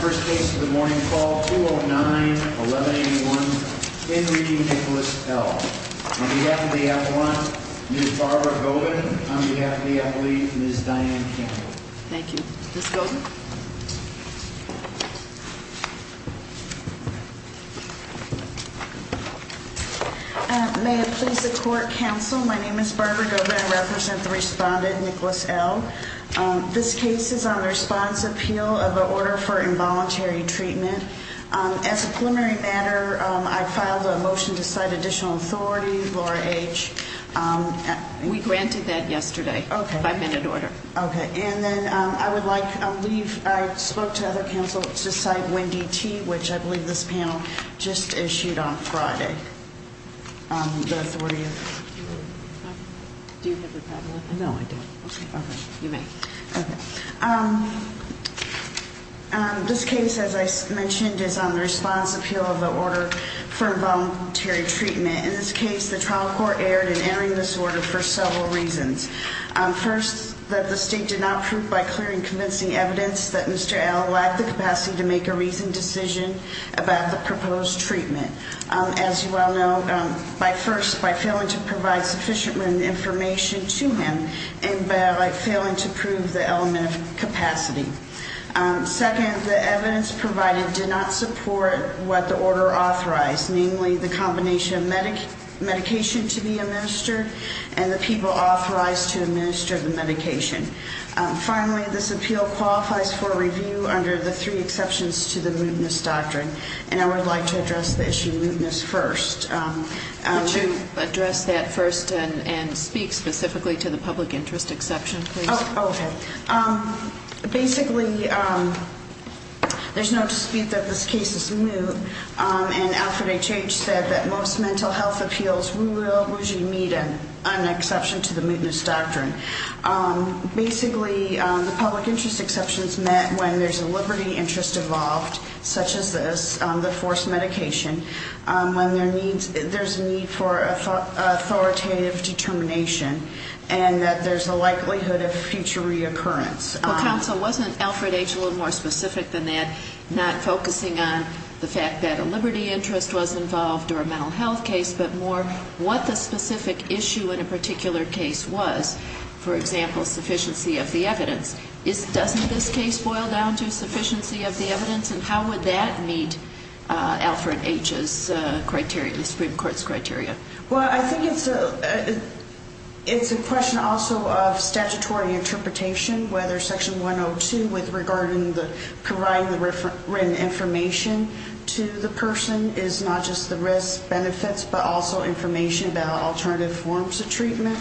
First case of the morning call 209-1181 in reading Nicholas L on behalf of the appellant Ms. Barbara Govan, on behalf of the appellee Ms. Diane Campbell. Thank you. Ms. Govan. May it please the court counsel, my name is Barbara Govan, I represent the respondent Nicholas L. This case is on the response appeal of the order for involuntary treatment. As a preliminary matter, I filed a motion to cite additional authority, Laura H. We granted that yesterday. Okay. Five minute order. Okay. And then I would like to leave, I spoke to other counsel to cite Wendy T., which I believe this panel just issued on Friday. Do you have the problem with that? No, I don't. Okay. You may. Okay. This case, as I mentioned, is on the response appeal of the order for involuntary treatment. In this case, the trial court erred in entering this order for several reasons. First, that the state did not prove by clear and convincing evidence that Mr. L. lacked the capacity to make a reasoned decision about the proposed treatment. As you well know, by first, by failing to provide sufficient information to him and by failing to prove the element of capacity. Second, the evidence provided did not support what the order authorized, namely the combination of medication to be administered and the people authorized to administer the medication. Finally, this appeal qualifies for review under the three exceptions to the mootness doctrine. And I would like to address the issue of mootness first. Would you address that first and speak specifically to the public interest exception, please? Okay. Basically, there's no dispute that this case is moot. And Alfred H. H. said that most mental health appeals will usually meet an exception to the mootness doctrine. Basically, the public interest exceptions met when there's a liberty interest involved, such as this, the forced medication. When there's a need for authoritative determination and that there's a likelihood of future reoccurrence. Well, counsel, wasn't Alfred H. a little more specific than that, not focusing on the fact that a liberty interest was involved or a mental health case, but more what the specific issue in a particular case was? For example, sufficiency of the evidence. Doesn't this case boil down to sufficiency of the evidence? And how would that meet Alfred H.'s criteria, the Supreme Court's criteria? Well, I think it's a question also of statutory interpretation, whether Section 102 regarding providing the written information to the person is not just the risks, benefits, but also information about alternative forms of treatment.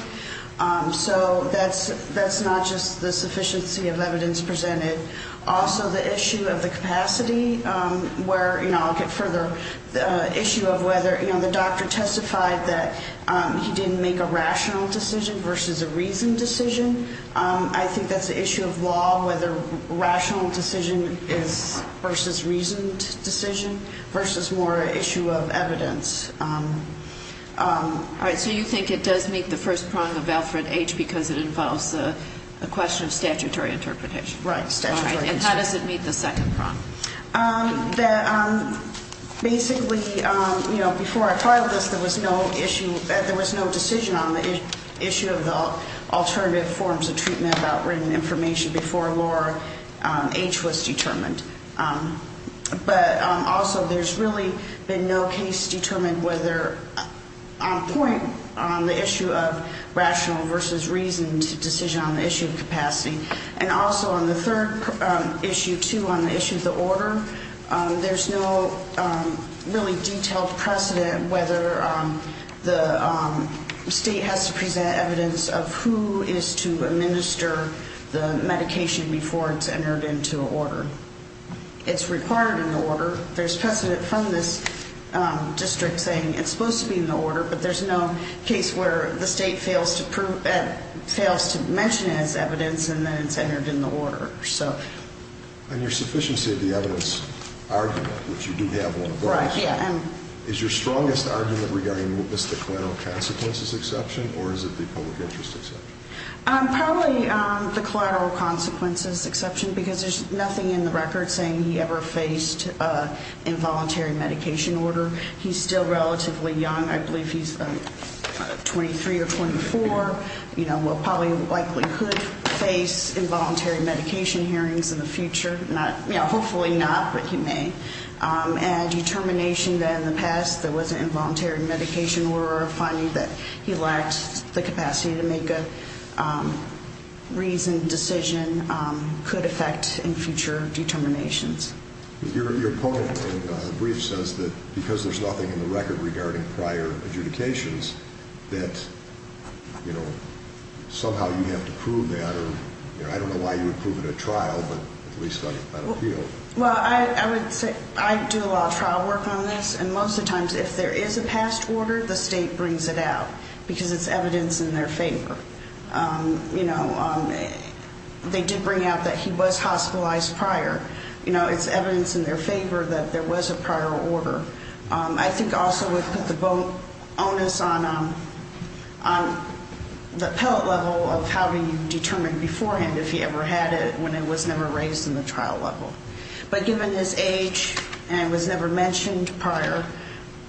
So that's not just the sufficiency of evidence presented. Also, the issue of the capacity where, you know, I'll get further, the issue of whether, you know, the doctor testified that he didn't make a rational decision versus a reasoned decision. I think that's the issue of law, whether rational decision is versus reasoned decision versus more issue of evidence. All right. So you think it does meet the first prong of Alfred H. because it involves a question of statutory interpretation? Right. And how does it meet the second prong? Basically, you know, before I filed this, there was no issue, there was no decision on the issue of the alternative forms of treatment about written information before Laura H. was determined. But also there's really been no case determined whether on point on the issue of rational versus reasoned decision on the issue of capacity. And also on the third issue, too, on the issue of the order, there's no really detailed precedent whether the state has to present evidence of who is to administer the medication before it's entered into an order. It's required in the order. There's precedent from this district saying it's supposed to be in the order, but there's no case where the state fails to mention it as evidence and then it's entered in the order. And your sufficiency of the evidence argument, which you do have on both, is your strongest argument regarding what's the collateral consequences exception or is it the public interest exception? Probably the collateral consequences exception because there's nothing in the record saying he ever faced involuntary medication order. He's still relatively young. I believe he's 23 or 24. You know, he probably could face involuntary medication hearings in the future. Hopefully not, but he may. And determination that in the past there was an involuntary medication order or finding that he lacked the capacity to make a reasoned decision could affect in future determinations. Your poem in the brief says that because there's nothing in the record regarding prior adjudications that, you know, somehow you have to prove that. I don't know why you would prove it at trial, but at least I don't feel. Well, I would say I do a lot of trial work on this, and most of the times if there is a past order, the state brings it out because it's evidence in their favor. You know, they did bring out that he was hospitalized prior. You know, it's evidence in their favor that there was a prior order. I think also we put the bonus on the pellet level of how do you determine beforehand if he ever had it when it was never raised in the trial level. But given his age and was never mentioned prior,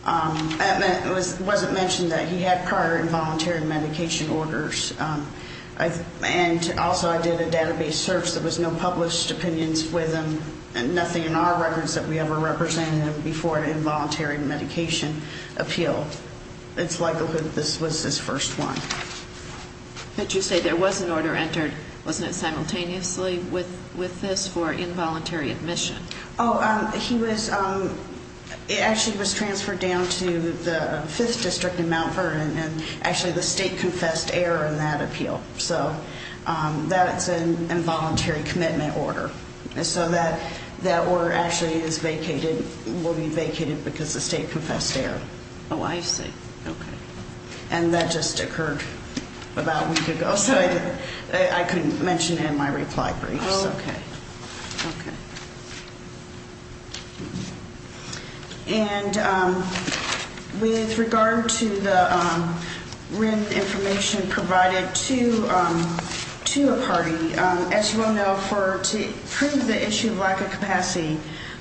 it wasn't mentioned that he had prior involuntary medication orders, and also I did a database search. There was no published opinions with him and nothing in our records that we ever represented him before an involuntary medication appeal. It's likely that this was his first one. But you say there was an order entered, wasn't it simultaneously with this, for involuntary admission? Oh, he was – it actually was transferred down to the 5th District in Mount Vernon, and actually the state confessed error in that appeal. So that's an involuntary commitment order. So that order actually is vacated – will be vacated because the state confessed error. Oh, I see. Okay. And that just occurred about a week ago, so I couldn't mention it in my reply briefs. Oh, okay. Okay. And with regard to the written information provided to a party, as you all know, to prove the issue of lack of capacity,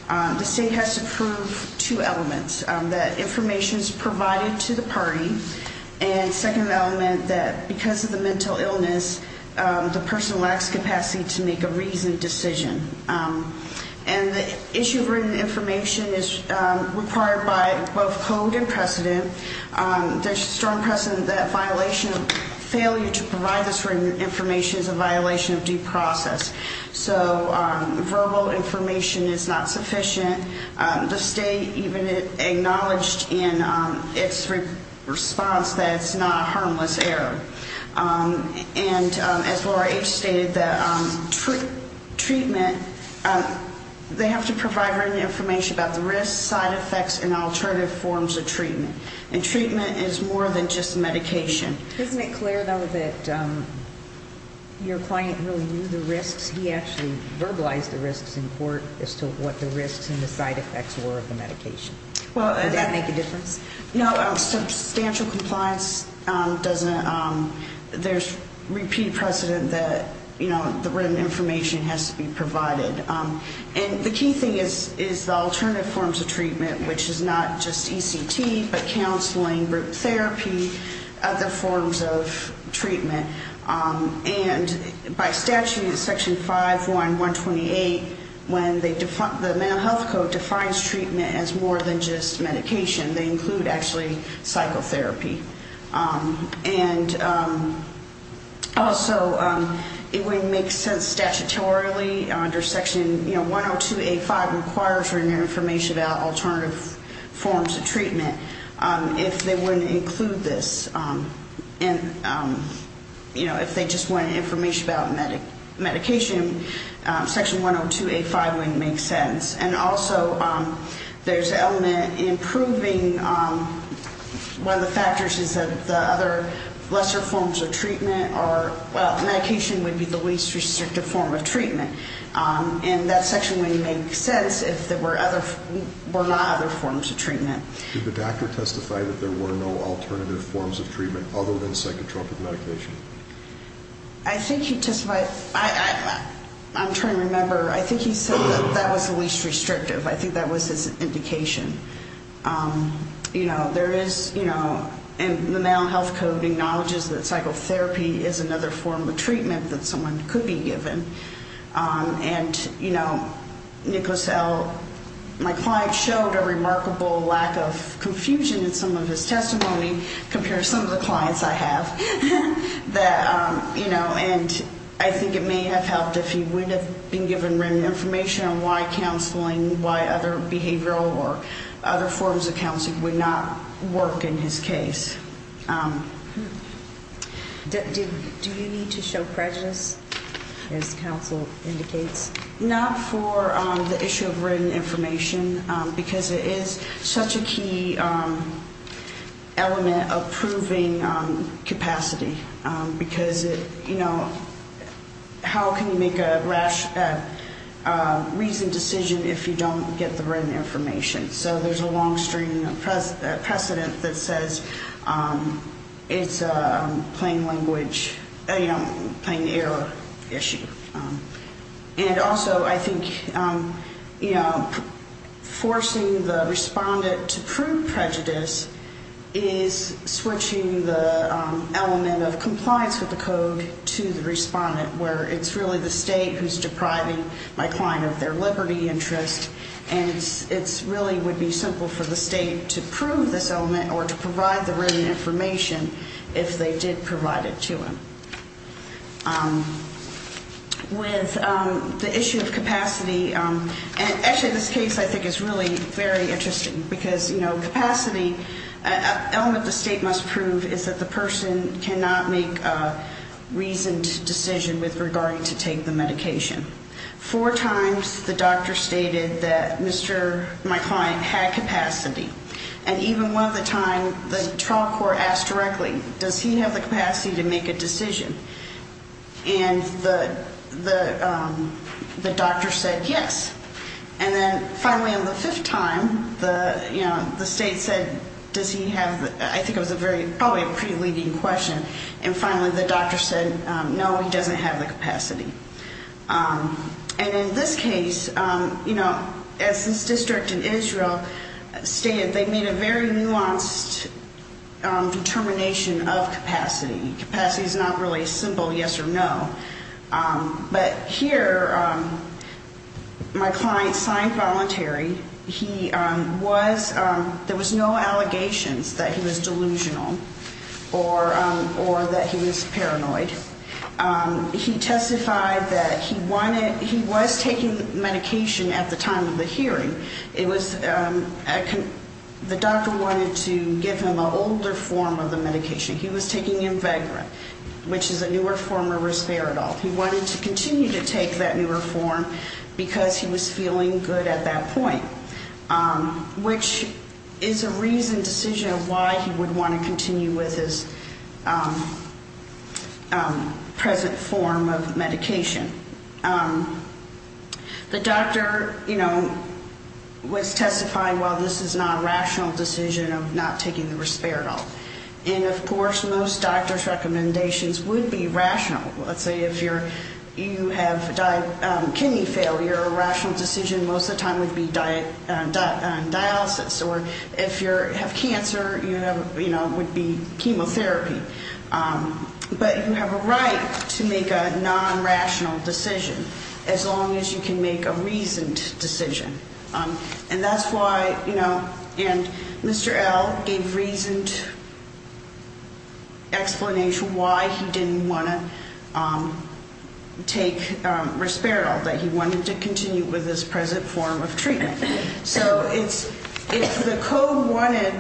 the state has to prove two elements. That information is provided to the party, and second element, that because of the mental illness, the person lacks capacity to make a reasoned decision. And the issue of written information is required by both code and precedent. There's strong precedent that violation of – failure to provide this written information is a violation of due process. So verbal information is not sufficient. The state even acknowledged in its response that it's not a harmless error. And as Laura H. stated, the treatment – they have to provide written information about the risks, side effects, and alternative forms of treatment. And treatment is more than just medication. Isn't it clear, though, that your client really knew the risks? He actually verbalized the risks in court as to what the risks and the side effects were of the medication. Would that make a difference? No. Substantial compliance doesn't – there's repeated precedent that, you know, the written information has to be provided. And the key thing is the alternative forms of treatment, which is not just ECT but counseling, group therapy, other forms of treatment. And by statute, Section 5.1.128, when they – the Mental Health Code defines treatment as more than just medication. They include, actually, psychotherapy. And also, it wouldn't make sense statutorily under Section, you know, 102.85 requires written information about alternative forms of treatment if they wouldn't include this. And, you know, if they just wanted information about medication, Section 102.85 wouldn't make sense. And also, there's an element in proving one of the factors is that the other lesser forms of treatment are – well, medication would be the least restrictive form of treatment. And that section wouldn't make sense if there were other – were not other forms of treatment. Did the doctor testify that there were no alternative forms of treatment other than psychotropic medication? I think he testified – I'm trying to remember. I think he said that that was the least restrictive. I think that was his indication. You know, there is, you know – and the Mental Health Code acknowledges that psychotherapy is another form of treatment that someone could be given. And, you know, Nicholas L., my client, showed a remarkable lack of confusion in some of his testimony compared to some of the clients I have. That, you know, and I think it may have helped if he would have been given written information on why counseling, why other behavioral or other forms of counseling would not work in his case. Do you need to show prejudice, as counsel indicates? Not for the issue of written information, because it is such a key element of proving capacity. Because, you know, how can you make a reasoned decision if you don't get the written information? So there's a long stream precedent that says it's a plain language, you know, plain error issue. And also, I think, you know, forcing the respondent to prove prejudice is switching the element of compliance with the code to the respondent, where it's really the state who's depriving my client of their liberty interest. And it really would be simple for the state to prove this element or to provide the written information if they did provide it to him. With the issue of capacity – and actually, this case, I think, is really very interesting. Because, you know, capacity – an element the state must prove is that the person cannot make a reasoned decision with regard to taking the medication. Four times, the doctor stated that Mr. – my client – had capacity. And even one of the time, the trial court asked directly, does he have the capacity to make a decision? And the doctor said yes. And then, finally, on the fifth time, the, you know, the state said, does he have – I think it was a very – probably a pretty leading question. And finally, the doctor said, no, he doesn't have the capacity. And in this case, you know, as this district in Israel stated, they made a very nuanced determination of capacity. Capacity is not really a simple yes or no. But here, my client signed voluntary. He was – there was no allegations that he was delusional or that he was paranoid. He testified that he wanted – he was taking medication at the time of the hearing. It was – the doctor wanted to give him an older form of the medication. He was taking Invegra, which is a newer form of Risperidol. He wanted to continue to take that newer form because he was feeling good at that point, which is a reasoned decision of why he would want to continue with his present form of medication. The doctor, you know, was testifying, well, this is not a rational decision of not taking the Risperidol. And, of course, most doctor's recommendations would be rational. Let's say if you have kidney failure, a rational decision most of the time would be dialysis. Or if you have cancer, you know, it would be chemotherapy. But you have a right to make a non-rational decision as long as you can make a reasoned decision. And that's why, you know – and Mr. L. gave reasoned explanation why he didn't want to take Risperidol, that he wanted to continue with his present form of treatment. So it's – if the code wanted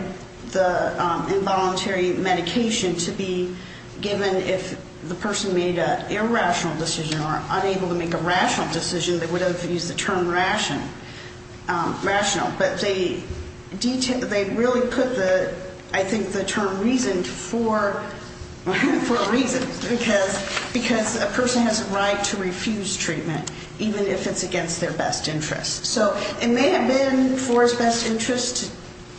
the involuntary medication to be given if the person made an irrational decision or unable to make a rational decision, they would have used the term rational. But they really put the – I think the term reasoned for a reason, because a person has a right to refuse treatment even if it's against their best interest. So it may have been for his best interest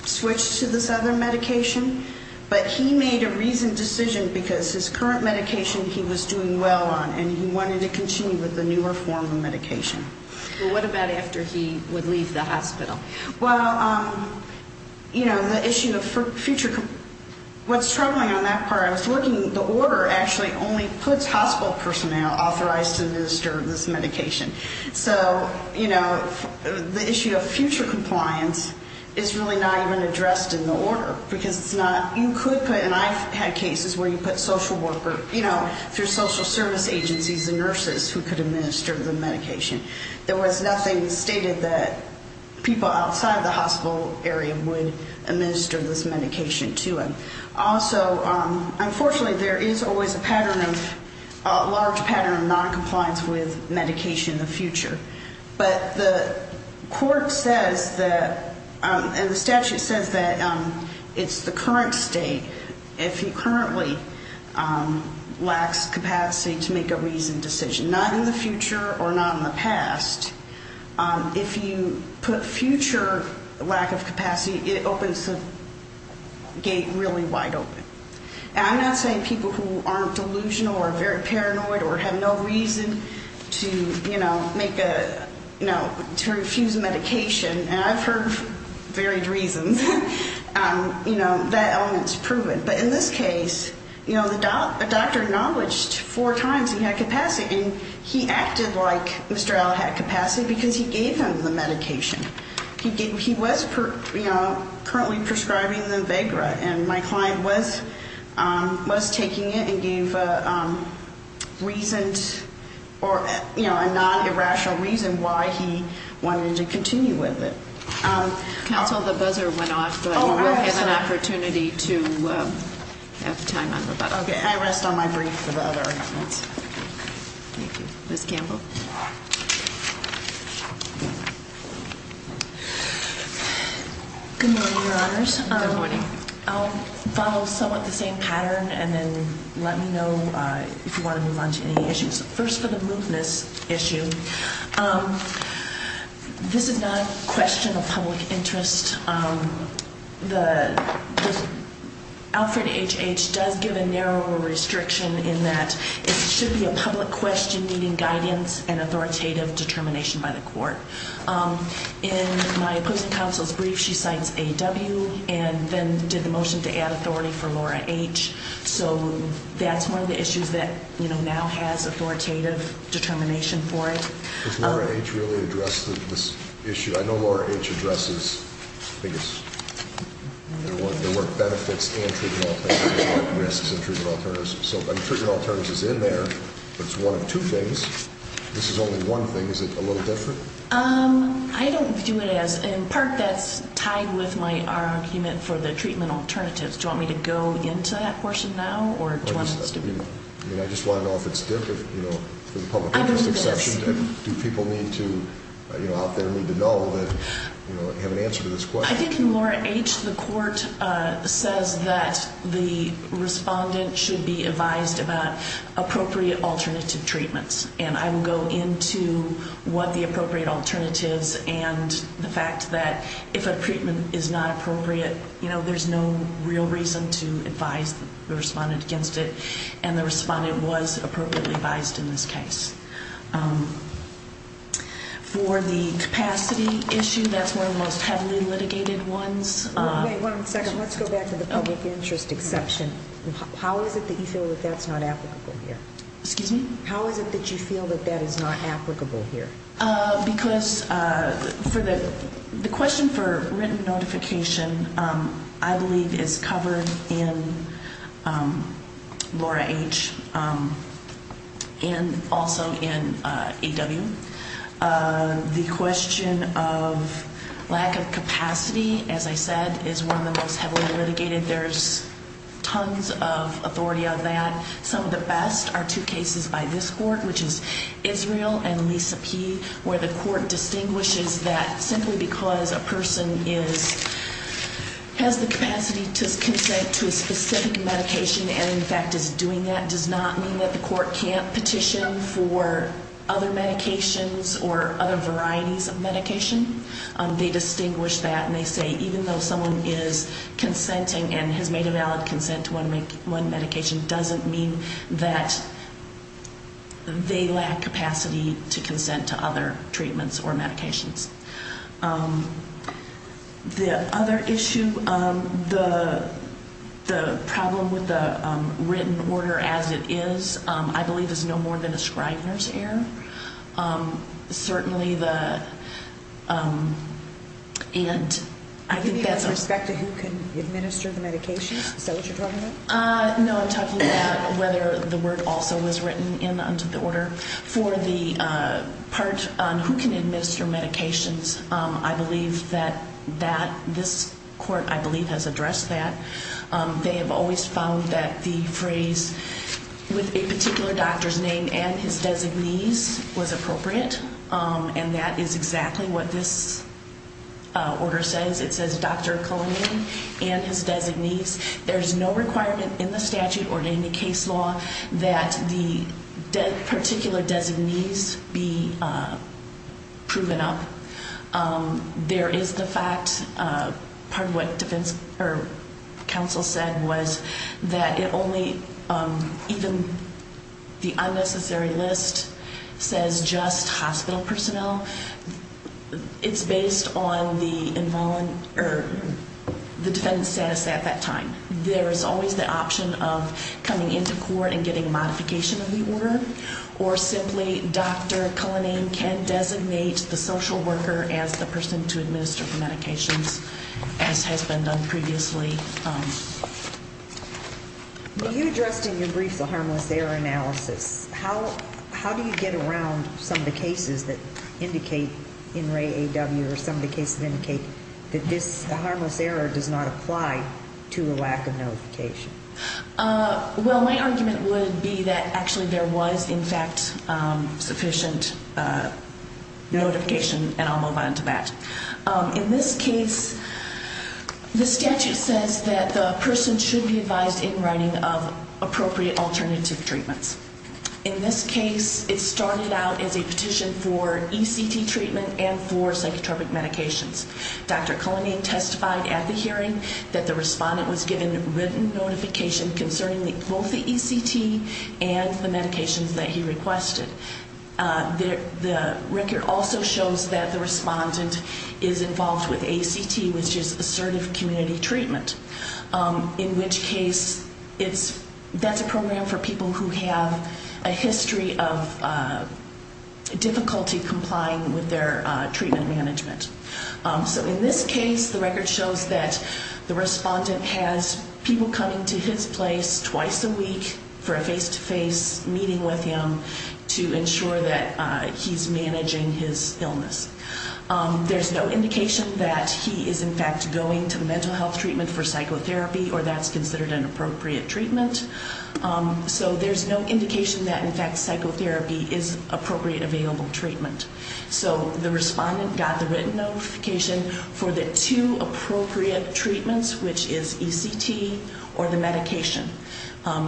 to switch to this other medication, but he made a reasoned decision because his current medication he was doing well on and he wanted to continue with the newer form of medication. But what about after he would leave the hospital? Well, you know, the issue of future – what's troubling on that part, I was looking – the order actually only puts hospital personnel authorized to administer this medication. So, you know, the issue of future compliance is really not even addressed in the order, because it's not – you could put – and I've had cases where you put social worker, you know, through social service agencies and nurses who could administer the medication. There was nothing stated that people outside the hospital area would administer this medication to them. Also, unfortunately, there is always a pattern of – a large pattern of noncompliance with medication in the future. But the court says that – and the statute says that it's the current state. If he currently lacks capacity to make a reasoned decision, not in the future or not in the past, if you put future lack of capacity, it opens the gate really wide open. And I'm not saying people who aren't delusional or very paranoid or have no reason to, you know, make a – you know, to refuse medication, and I've heard varied reasons, you know, that element's proven. But in this case, you know, the doctor acknowledged four times he had capacity, and he acted like Mr. Allen had capacity because he gave him the medication. He was, you know, currently prescribing the Avegra, and my client was taking it and gave a reasoned or, you know, a non-irrational reason why he wanted to continue with it. Counsel, the buzzer went off, but you will have an opportunity to have time on the button. Okay. I rest on my brief for the other amendments. Thank you. Ms. Campbell. Good morning, Your Honors. Good morning. I'll follow somewhat the same pattern and then let me know if you want to move on to any issues. First, for the mootness issue, this is not a question of public interest. Alfred H. H. does give a narrower restriction in that it should be a public question needing guidance In my opposing counsel's brief, she cites A.W. and then did the motion to add authority for Laura H. So that's one of the issues that, you know, now has authoritative determination for it. Does Laura H. really address this issue? I know Laura H. addresses, I think it's, there were benefits and treatment alternatives, there were risks and treatment alternatives. So, I mean, treatment alternatives is in there, but it's one of two things. This is only one thing. Is it a little different? I don't view it as, in part that's tied with my argument for the treatment alternatives. Do you want me to go into that portion now or do you want us to move on? I just want to know if it's different, you know, for the public interest exception. Do people need to, you know, out there need to know that, you know, have an answer to this question? I think in Laura H., the court says that the respondent should be advised about appropriate alternative treatments. And I will go into what the appropriate alternatives and the fact that if a treatment is not appropriate, you know, there's no real reason to advise the respondent against it. And the respondent was appropriately advised in this case. For the capacity issue, that's one of the most heavily litigated ones. Wait one second, let's go back to the public interest exception. How is it that you feel that that's not applicable here? Excuse me? How is it that you feel that that is not applicable here? Because for the question for written notification, I believe it's covered in Laura H. and also in AW. The question of lack of capacity, as I said, is one of the most heavily litigated. There's tons of authority on that. Some of the best are two cases by this court, which is Israel and Lisa P., where the court distinguishes that simply because a person has the capacity to consent to a specific medication and, in fact, is doing that does not mean that the court can't petition for other medications or other varieties of medication. They distinguish that and they say even though someone is consenting and has made a valid consent to one medication doesn't mean that they lack capacity to consent to other treatments or medications. The other issue, the problem with the written order as it is, I believe is no more than a Scrivener's error. Certainly the, and I think that's... Do you mean with respect to who can administer the medications? Is that what you're talking about? No, I'm talking about whether the word also was written in the order. For the part on who can administer medications, I believe that this court, I believe, has addressed that. They have always found that the phrase with a particular doctor's name and his designee's was appropriate and that is exactly what this order says. It says Dr. Colonian and his designee's. There's no requirement in the statute or in the case law that the particular designee's be proven up. There is the fact, part of what defense counsel said was that it only, even the unnecessary list says just hospital personnel. It's based on the defendant's status at that time. There is always the option of coming into court and getting a modification of the order or simply Dr. Colonian can designate the social worker as the person to administer the medications as has been done previously. You addressed in your brief the harmless error analysis. How do you get around some of the cases that indicate, in Ray A.W. or some of the cases that indicate that this harmless error does not apply to a lack of notification? Well, my argument would be that actually there was, in fact, sufficient notification and I'll move on to that. In this case, the statute says that the person should be advised in writing of appropriate alternative treatments. In this case, it started out as a petition for ECT treatment and for psychotropic medications. Dr. Colonian testified at the hearing that the respondent was given written notification concerning both the ECT and the medications that he requested. The record also shows that the respondent is involved with ACT, which is assertive community treatment. In which case, that's a program for people who have a history of difficulty complying with their treatment management. So in this case, the record shows that the respondent has people coming to his place twice a week for a face-to-face meeting with him to ensure that he's managing his illness. There's no indication that he is, in fact, going to mental health treatment for psychotherapy or that's considered an appropriate treatment. So there's no indication that, in fact, psychotherapy is appropriate available treatment. So the respondent got the written notification for the two appropriate treatments, which is ECT or the medication.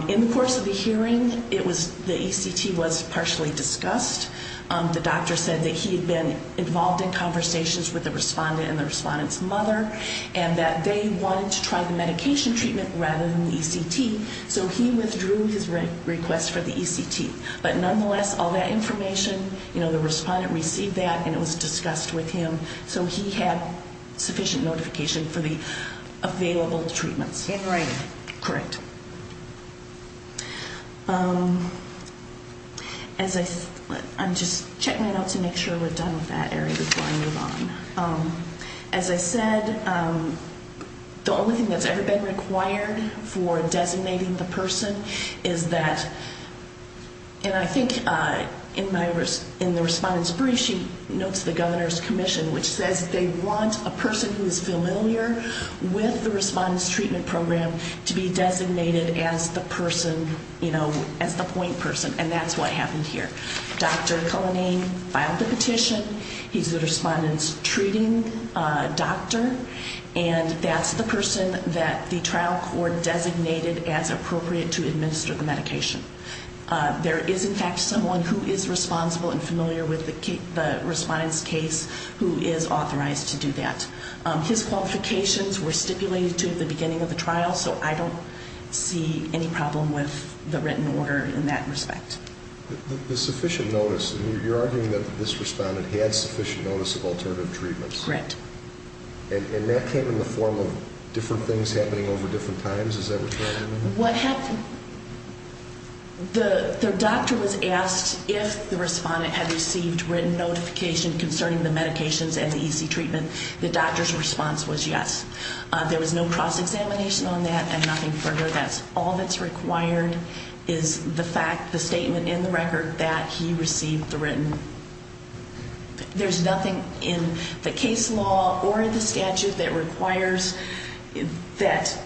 In the course of the hearing, the ECT was partially discussed. The doctor said that he had been involved in conversations with the respondent and the respondent's mother and that they wanted to try the medication treatment rather than the ECT. So he withdrew his request for the ECT. But nonetheless, all that information, the respondent received that and it was discussed with him. So he had sufficient notification for the available treatments. In writing. Correct. I'm just checking that out to make sure we're done with that area before I move on. As I said, the only thing that's ever been required for designating the person is that, and I think in the respondent's brief she notes the governor's commission, which says they want a person who is familiar with the respondent's treatment program to be designated as the person, you know, as the point person, and that's what happened here. Dr. Cullinane filed the petition. He's the respondent's treating doctor, and that's the person that the trial court designated as appropriate to administer the medication. There is, in fact, someone who is responsible and familiar with the respondent's case who is authorized to do that. His qualifications were stipulated to at the beginning of the trial, so I don't see any problem with the written order in that respect. The sufficient notice, you're arguing that this respondent had sufficient notice of alternative treatments. Correct. And that came in the form of different things happening over different times? Is that what you're arguing? What happened, the doctor was asked if the respondent had received written notification concerning the medications and the EC treatment. The doctor's response was yes. There was no cross-examination on that and nothing further. That's all that's required is the fact, the statement in the record that he received the written. There's nothing in the case law or in the statute that requires that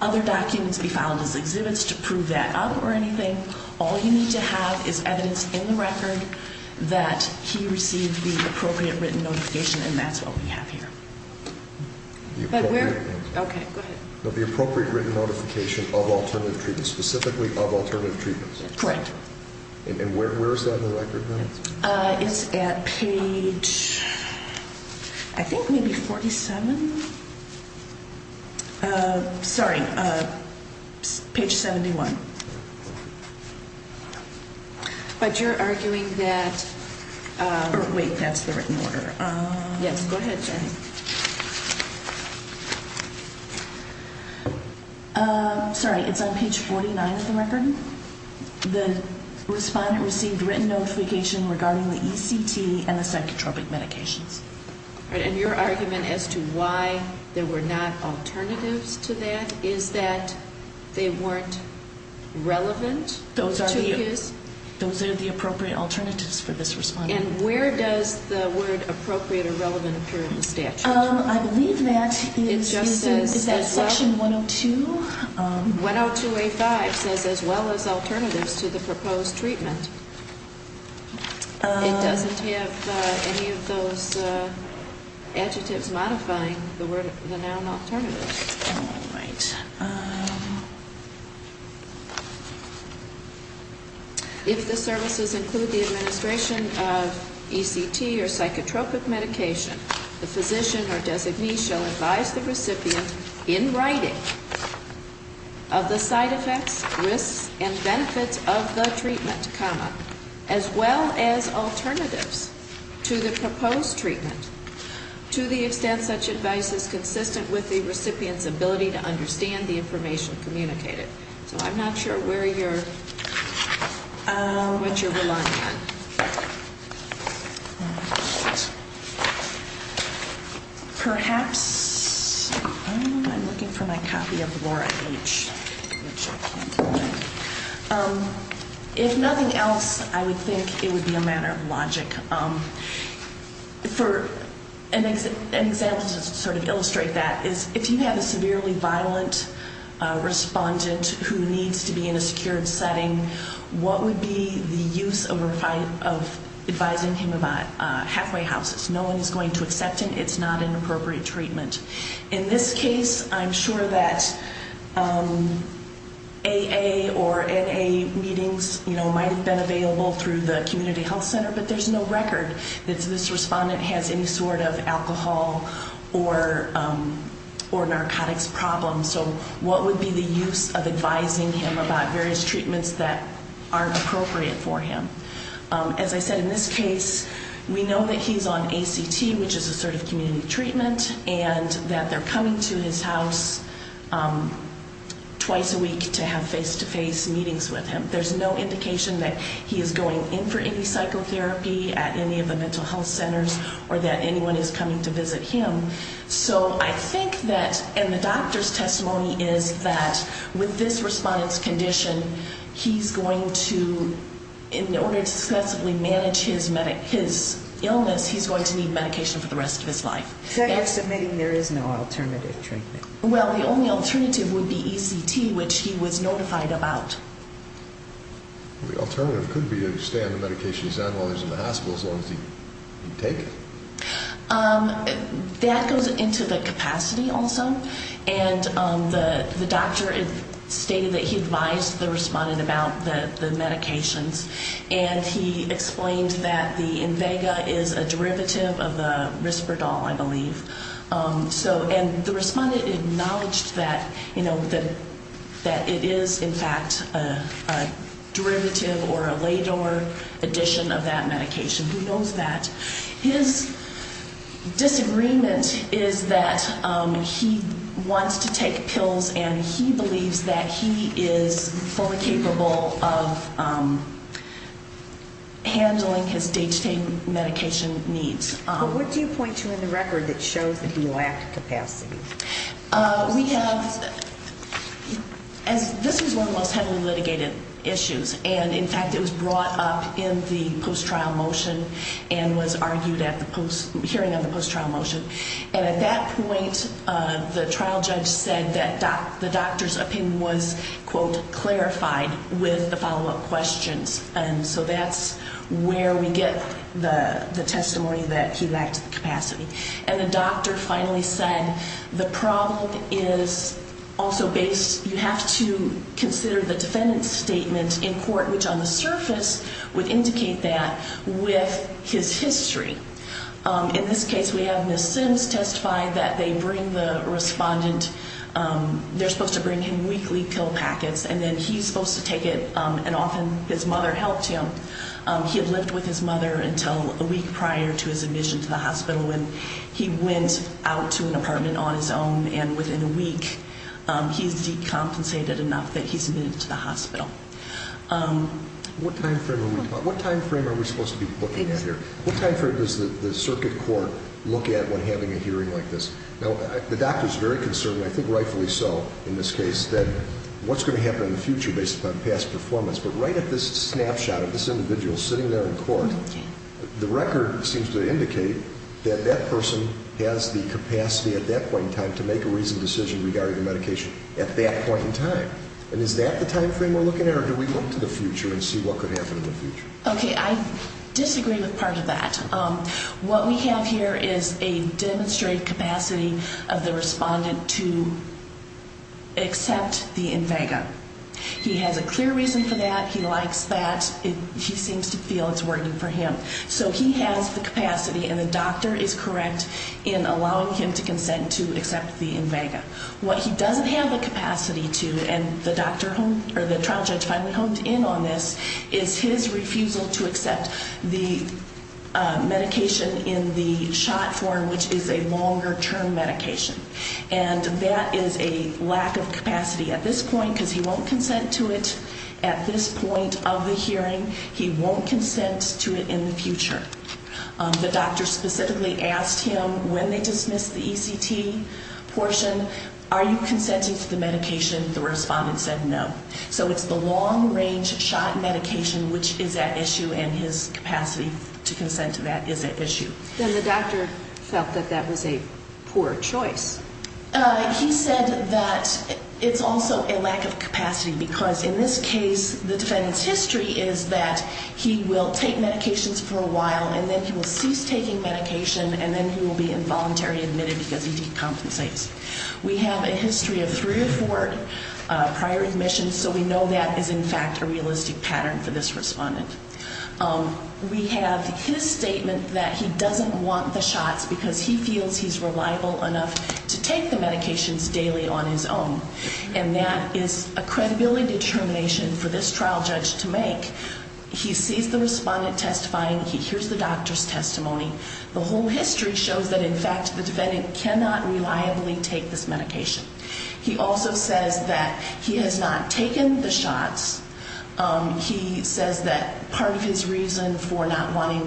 other documents be filed as exhibits to prove that out or anything. All you need to have is evidence in the record that he received the appropriate written notification, and that's what we have here. Okay, go ahead. The appropriate written notification of alternative treatments, specifically of alternative treatments. Correct. And where is that in the record now? It's at page, I think maybe 47. Sorry, page 71. But you're arguing that. Wait, that's the written order. Yes, go ahead. Sorry, it's on page 49 of the record. The respondent received written notification regarding the ECT and the psychotropic medications. And your argument as to why there were not alternatives to that is that they weren't relevant to his. Those are the appropriate alternatives for this respondent. And where does the word appropriate or relevant appear in the statute? I believe that is section 102. 102A5 says as well as alternatives to the proposed treatment. It doesn't have any of those adjectives modifying the noun alternatives. All right. If the services include the administration of ECT or psychotropic medication, the physician or designee shall advise the recipient in writing of the side effects, risks, and benefits of the treatment, as well as alternatives to the proposed treatment, to the extent such advice is consistent with the recipient's ability to understand the information communicated. So I'm not sure where you're, what you're relying on. Perhaps, I'm looking for my copy of Laura H., which I can't find. If nothing else, I would think it would be a matter of logic. For an example to sort of illustrate that is if you have a severely violent respondent who needs to be in a secured setting, what would be the use of advising him about halfway houses? No one is going to accept him. It's not an appropriate treatment. In this case, I'm sure that AA or NA meetings might have been available through the community health center, but there's no record that this respondent has any sort of alcohol or narcotics problems. So what would be the use of advising him about various treatments that aren't appropriate for him? As I said, in this case, we know that he's on ACT, which is a sort of community treatment, and that they're coming to his house twice a week to have face-to-face meetings with him. There's no indication that he is going in for any psychotherapy at any of the mental health centers or that anyone is coming to visit him. So I think that, in the doctor's testimony, is that with this respondent's condition, he's going to, in order to successively manage his illness, he's going to need medication for the rest of his life. So you're submitting there is no alternative treatment? Well, the only alternative would be ECT, which he was notified about. The alternative could be to stay on the medication he's on while he's in the hospital as long as he can take it. That goes into the capacity also, and the doctor stated that he advised the respondent about the medications, and he explained that the Invega is a derivative of the Risperdal, I believe. And the respondent acknowledged that it is, in fact, a derivative or a LADOR addition of that medication. Who knows that? His disagreement is that he wants to take pills and he believes that he is fully capable of handling his day-to-day medication needs. But what do you point to in the record that shows that he lacked capacity? We have, as this is one of the most heavily litigated issues, and, in fact, it was brought up in the post-trial motion and was argued at the hearing of the post-trial motion. And at that point, the trial judge said that the doctor's opinion was, quote, clarified with the follow-up questions. And so that's where we get the testimony that he lacked capacity. And the doctor finally said the problem is also based, you have to consider the defendant's statement in court, which on the surface would indicate that with his history. In this case, we have Ms. Sims testify that they bring the respondent, they're supposed to bring him weekly pill packets, and then he's supposed to take it, and often his mother helped him. He had lived with his mother until a week prior to his admission to the hospital when he went out to an apartment on his own, and within a week, he's decompensated enough that he's admitted to the hospital. What time frame are we supposed to be looking at here? What time frame does the circuit court look at when having a hearing like this? Now, the doctor's very concerned, and I think rightfully so in this case, that what's going to happen in the future based upon past performance. But right at this snapshot of this individual sitting there in court, the record seems to indicate that that person has the capacity at that point in time to make a reasonable decision regarding the medication at that point in time. And is that the time frame we're looking at, or do we look to the future and see what could happen in the future? Okay, I disagree with part of that. What we have here is a demonstrated capacity of the respondent to accept the Invega. He has a clear reason for that. He likes that. He seems to feel it's working for him. So he has the capacity, and the doctor is correct in allowing him to consent to accept the Invega. What he doesn't have the capacity to, and the trial judge finally honed in on this, is his refusal to accept the medication in the shot form, which is a longer-term medication. And that is a lack of capacity at this point, because he won't consent to it at this point of the hearing. He won't consent to it in the future. The doctor specifically asked him when they dismissed the ECT portion, are you consenting to the medication? The respondent said no. So it's the long-range shot medication which is at issue, and his capacity to consent to that is at issue. Then the doctor felt that that was a poor choice. He said that it's also a lack of capacity, because in this case, the defendant's history is that he will take medications for a while, and then he will cease taking medication, and then he will be involuntarily admitted because he decompensates. We have a history of three or four prior admissions, so we know that is in fact a realistic pattern for this respondent. We have his statement that he doesn't want the shots, because he feels he's reliable enough to take the medications daily on his own, and that is a credibility determination for this trial judge to make. He sees the respondent testifying, he hears the doctor's testimony. The whole history shows that, in fact, the defendant cannot reliably take this medication. He also says that he has not taken the shots. He says that part of his reason for not wanting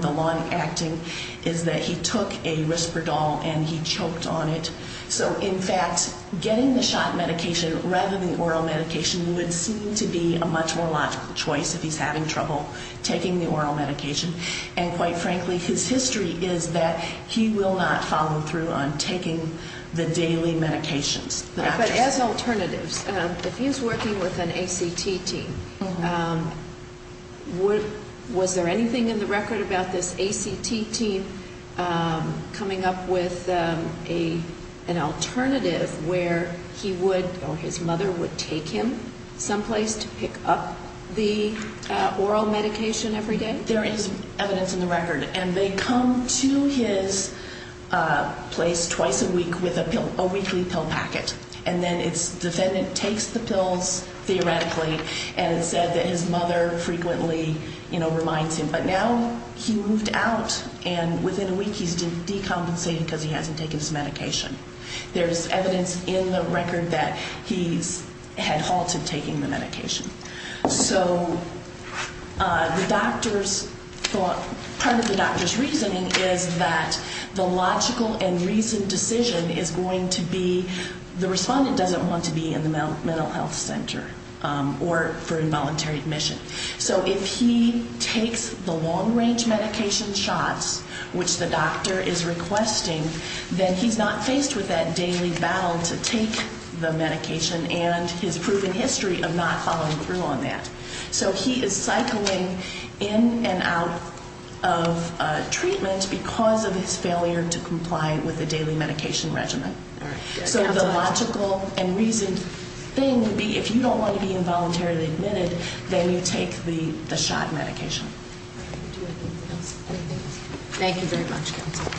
the lung acting is that he took a Risperdal and he choked on it. So in fact, getting the shot medication rather than oral medication would seem to be a much more logical choice if he's having trouble taking the oral medication, and quite frankly, his history is that he will not follow through on taking the daily medications. But as alternatives, if he's working with an ACT team, was there anything in the record about this ACT team coming up with an alternative where he would or his mother would take him someplace to pick up the oral medication every day? There is evidence in the record, and they come to his place twice a week with a weekly pill packet. And then its defendant takes the pills, theoretically, and said that his mother frequently, you know, reminds him. But now he moved out, and within a week he's decompensated because he hasn't taken his medication. There's evidence in the record that he's had halted taking the medication. So the doctor's thought, part of the doctor's reasoning is that the logical and reasoned decision is going to be the respondent doesn't want to be in the mental health center or for involuntary admission. So if he takes the long-range medication shots, which the doctor is requesting, then he's not faced with that daily battle to take the medication and his proven history of not following through on that. So he is cycling in and out of treatment because of his failure to comply with the daily medication regimen. So the logical and reasoned thing would be if you don't want to be involuntarily admitted, then you take the shot medication. Thank you very much, Counsel.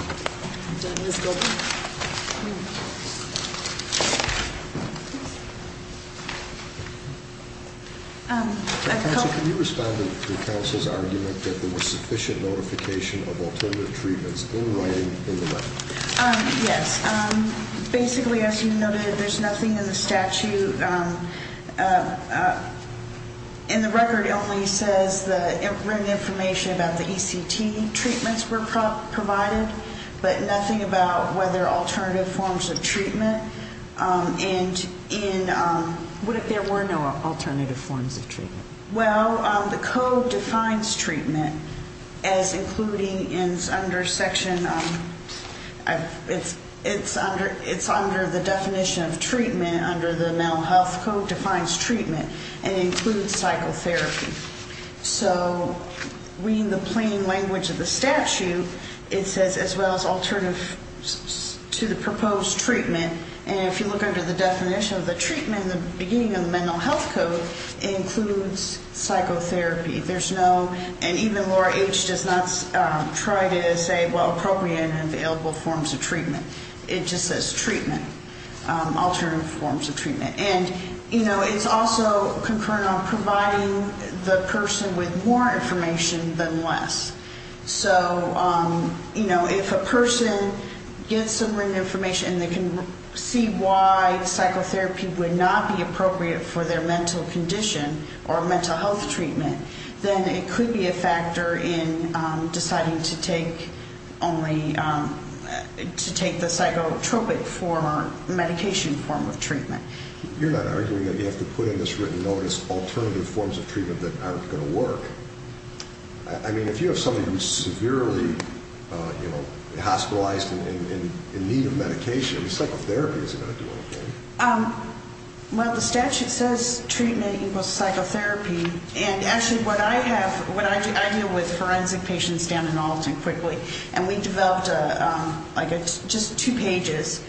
Counsel, can you respond to the Counsel's argument that there was sufficient notification of alternative treatments in writing in the record? Yes. Basically, as you noted, there's nothing in the statute. In the record, it only says the written information about the ECT treatments were provided, but nothing about whether alternative forms of treatment. What if there were no alternative forms of treatment? Well, the code defines treatment as including, and it's under section, it's under the definition of treatment under the Mental Health Code, defines treatment and includes psychotherapy. So reading the plain language of the statute, it says, as well as alternative to the proposed treatment, and if you look under the definition of the treatment, in the beginning of the Mental Health Code, it includes psychotherapy. There's no, and even Laura H. does not try to say, well, appropriate and available forms of treatment. It just says treatment, alternative forms of treatment. And it's also concurrent on providing the person with more information than less. So, you know, if a person gets some written information and they can see why psychotherapy would not be appropriate for their mental condition or mental health treatment, then it could be a factor in deciding to take only, to take the psychotropic form or medication form of treatment. You're not arguing that you have to put in this written notice alternative forms of treatment that aren't going to work. I mean, if you have somebody who's severely, you know, hospitalized and in need of medication, psychotherapy is going to do okay. Well, the statute says treatment equals psychotherapy, and actually what I have, when I deal with forensic patients down in Alton quickly, and we developed like just two pages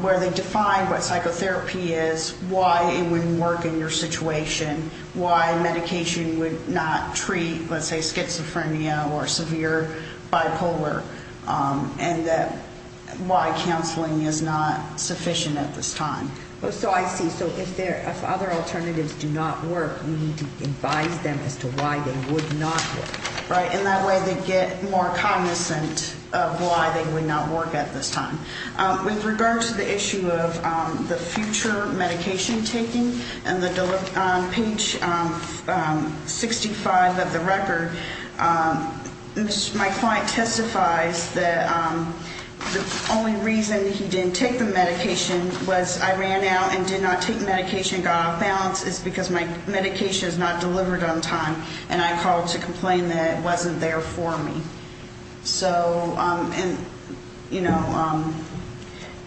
where they define what psychotherapy is, why it wouldn't work in your situation, why medication would not treat, let's say, schizophrenia or severe bipolar, and why counseling is not sufficient at this time. So I see. So if other alternatives do not work, we need to advise them as to why they would not work, right? And that way they get more cognizant of why they would not work at this time. With regard to the issue of the future medication taking, on page 65 of the record, my client testifies that the only reason he didn't take the medication was I ran out and did not take medication, got off balance, is because my medication is not delivered on time, and I called to complain that it wasn't there for me.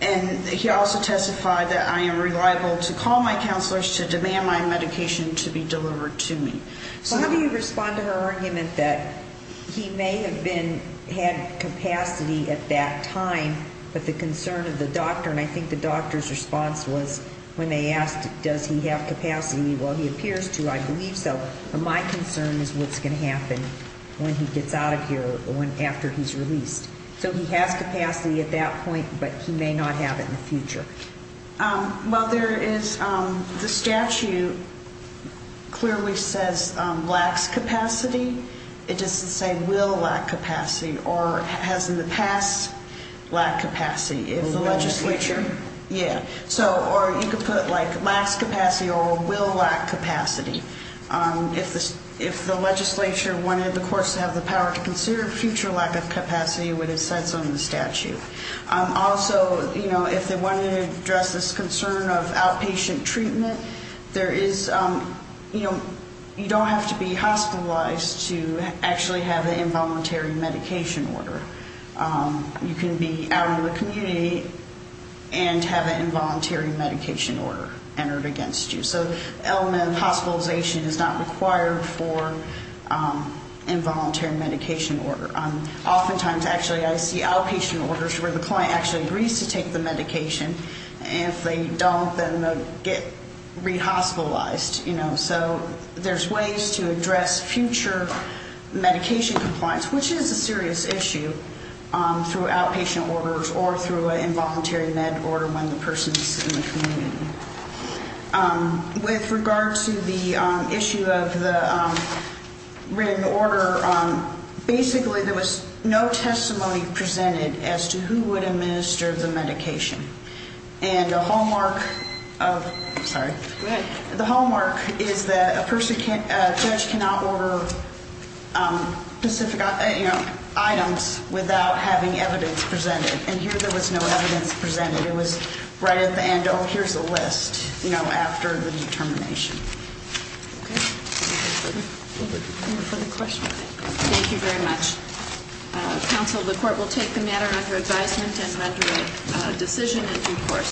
And he also testified that I am reliable to call my counselors to demand my medication to be delivered to me. Well, how do you respond to her argument that he may have been, had capacity at that time, but the concern of the doctor, and I think the doctor's response was when they asked does he have capacity, well, he appears to, I believe so, but my concern is what's going to happen when he gets out of here or after he's released. So he has capacity at that point, but he may not have it in the future. Well, there is, the statute clearly says lacks capacity. It doesn't say will lack capacity, or has in the past lacked capacity. If the legislature, yeah. So, or you could put like lacks capacity or will lack capacity. If the legislature wanted the courts to have the power to consider future lack of capacity, that would be what it says on the statute. Also, you know, if they wanted to address this concern of outpatient treatment, there is, you know, you don't have to be hospitalized to actually have an involuntary medication order. You can be out in the community and have an involuntary medication order entered against you. So element of hospitalization is not required for involuntary medication order. Oftentimes, actually, I see outpatient orders where the client actually agrees to take the medication, and if they don't, then they'll get rehospitalized, you know. So there's ways to address future medication compliance, which is a serious issue through outpatient orders or through an involuntary med order when the person is in the community. With regard to the issue of the written order, basically there was no testimony presented as to who would administer the medication. And the hallmark of, sorry. Go ahead. The hallmark is that a person can't, a judge cannot order specific items without having evidence presented. And here there was no evidence presented. It was right at the end. Oh, here's the list, you know, after the determination. Okay. Any further questions? Thank you very much.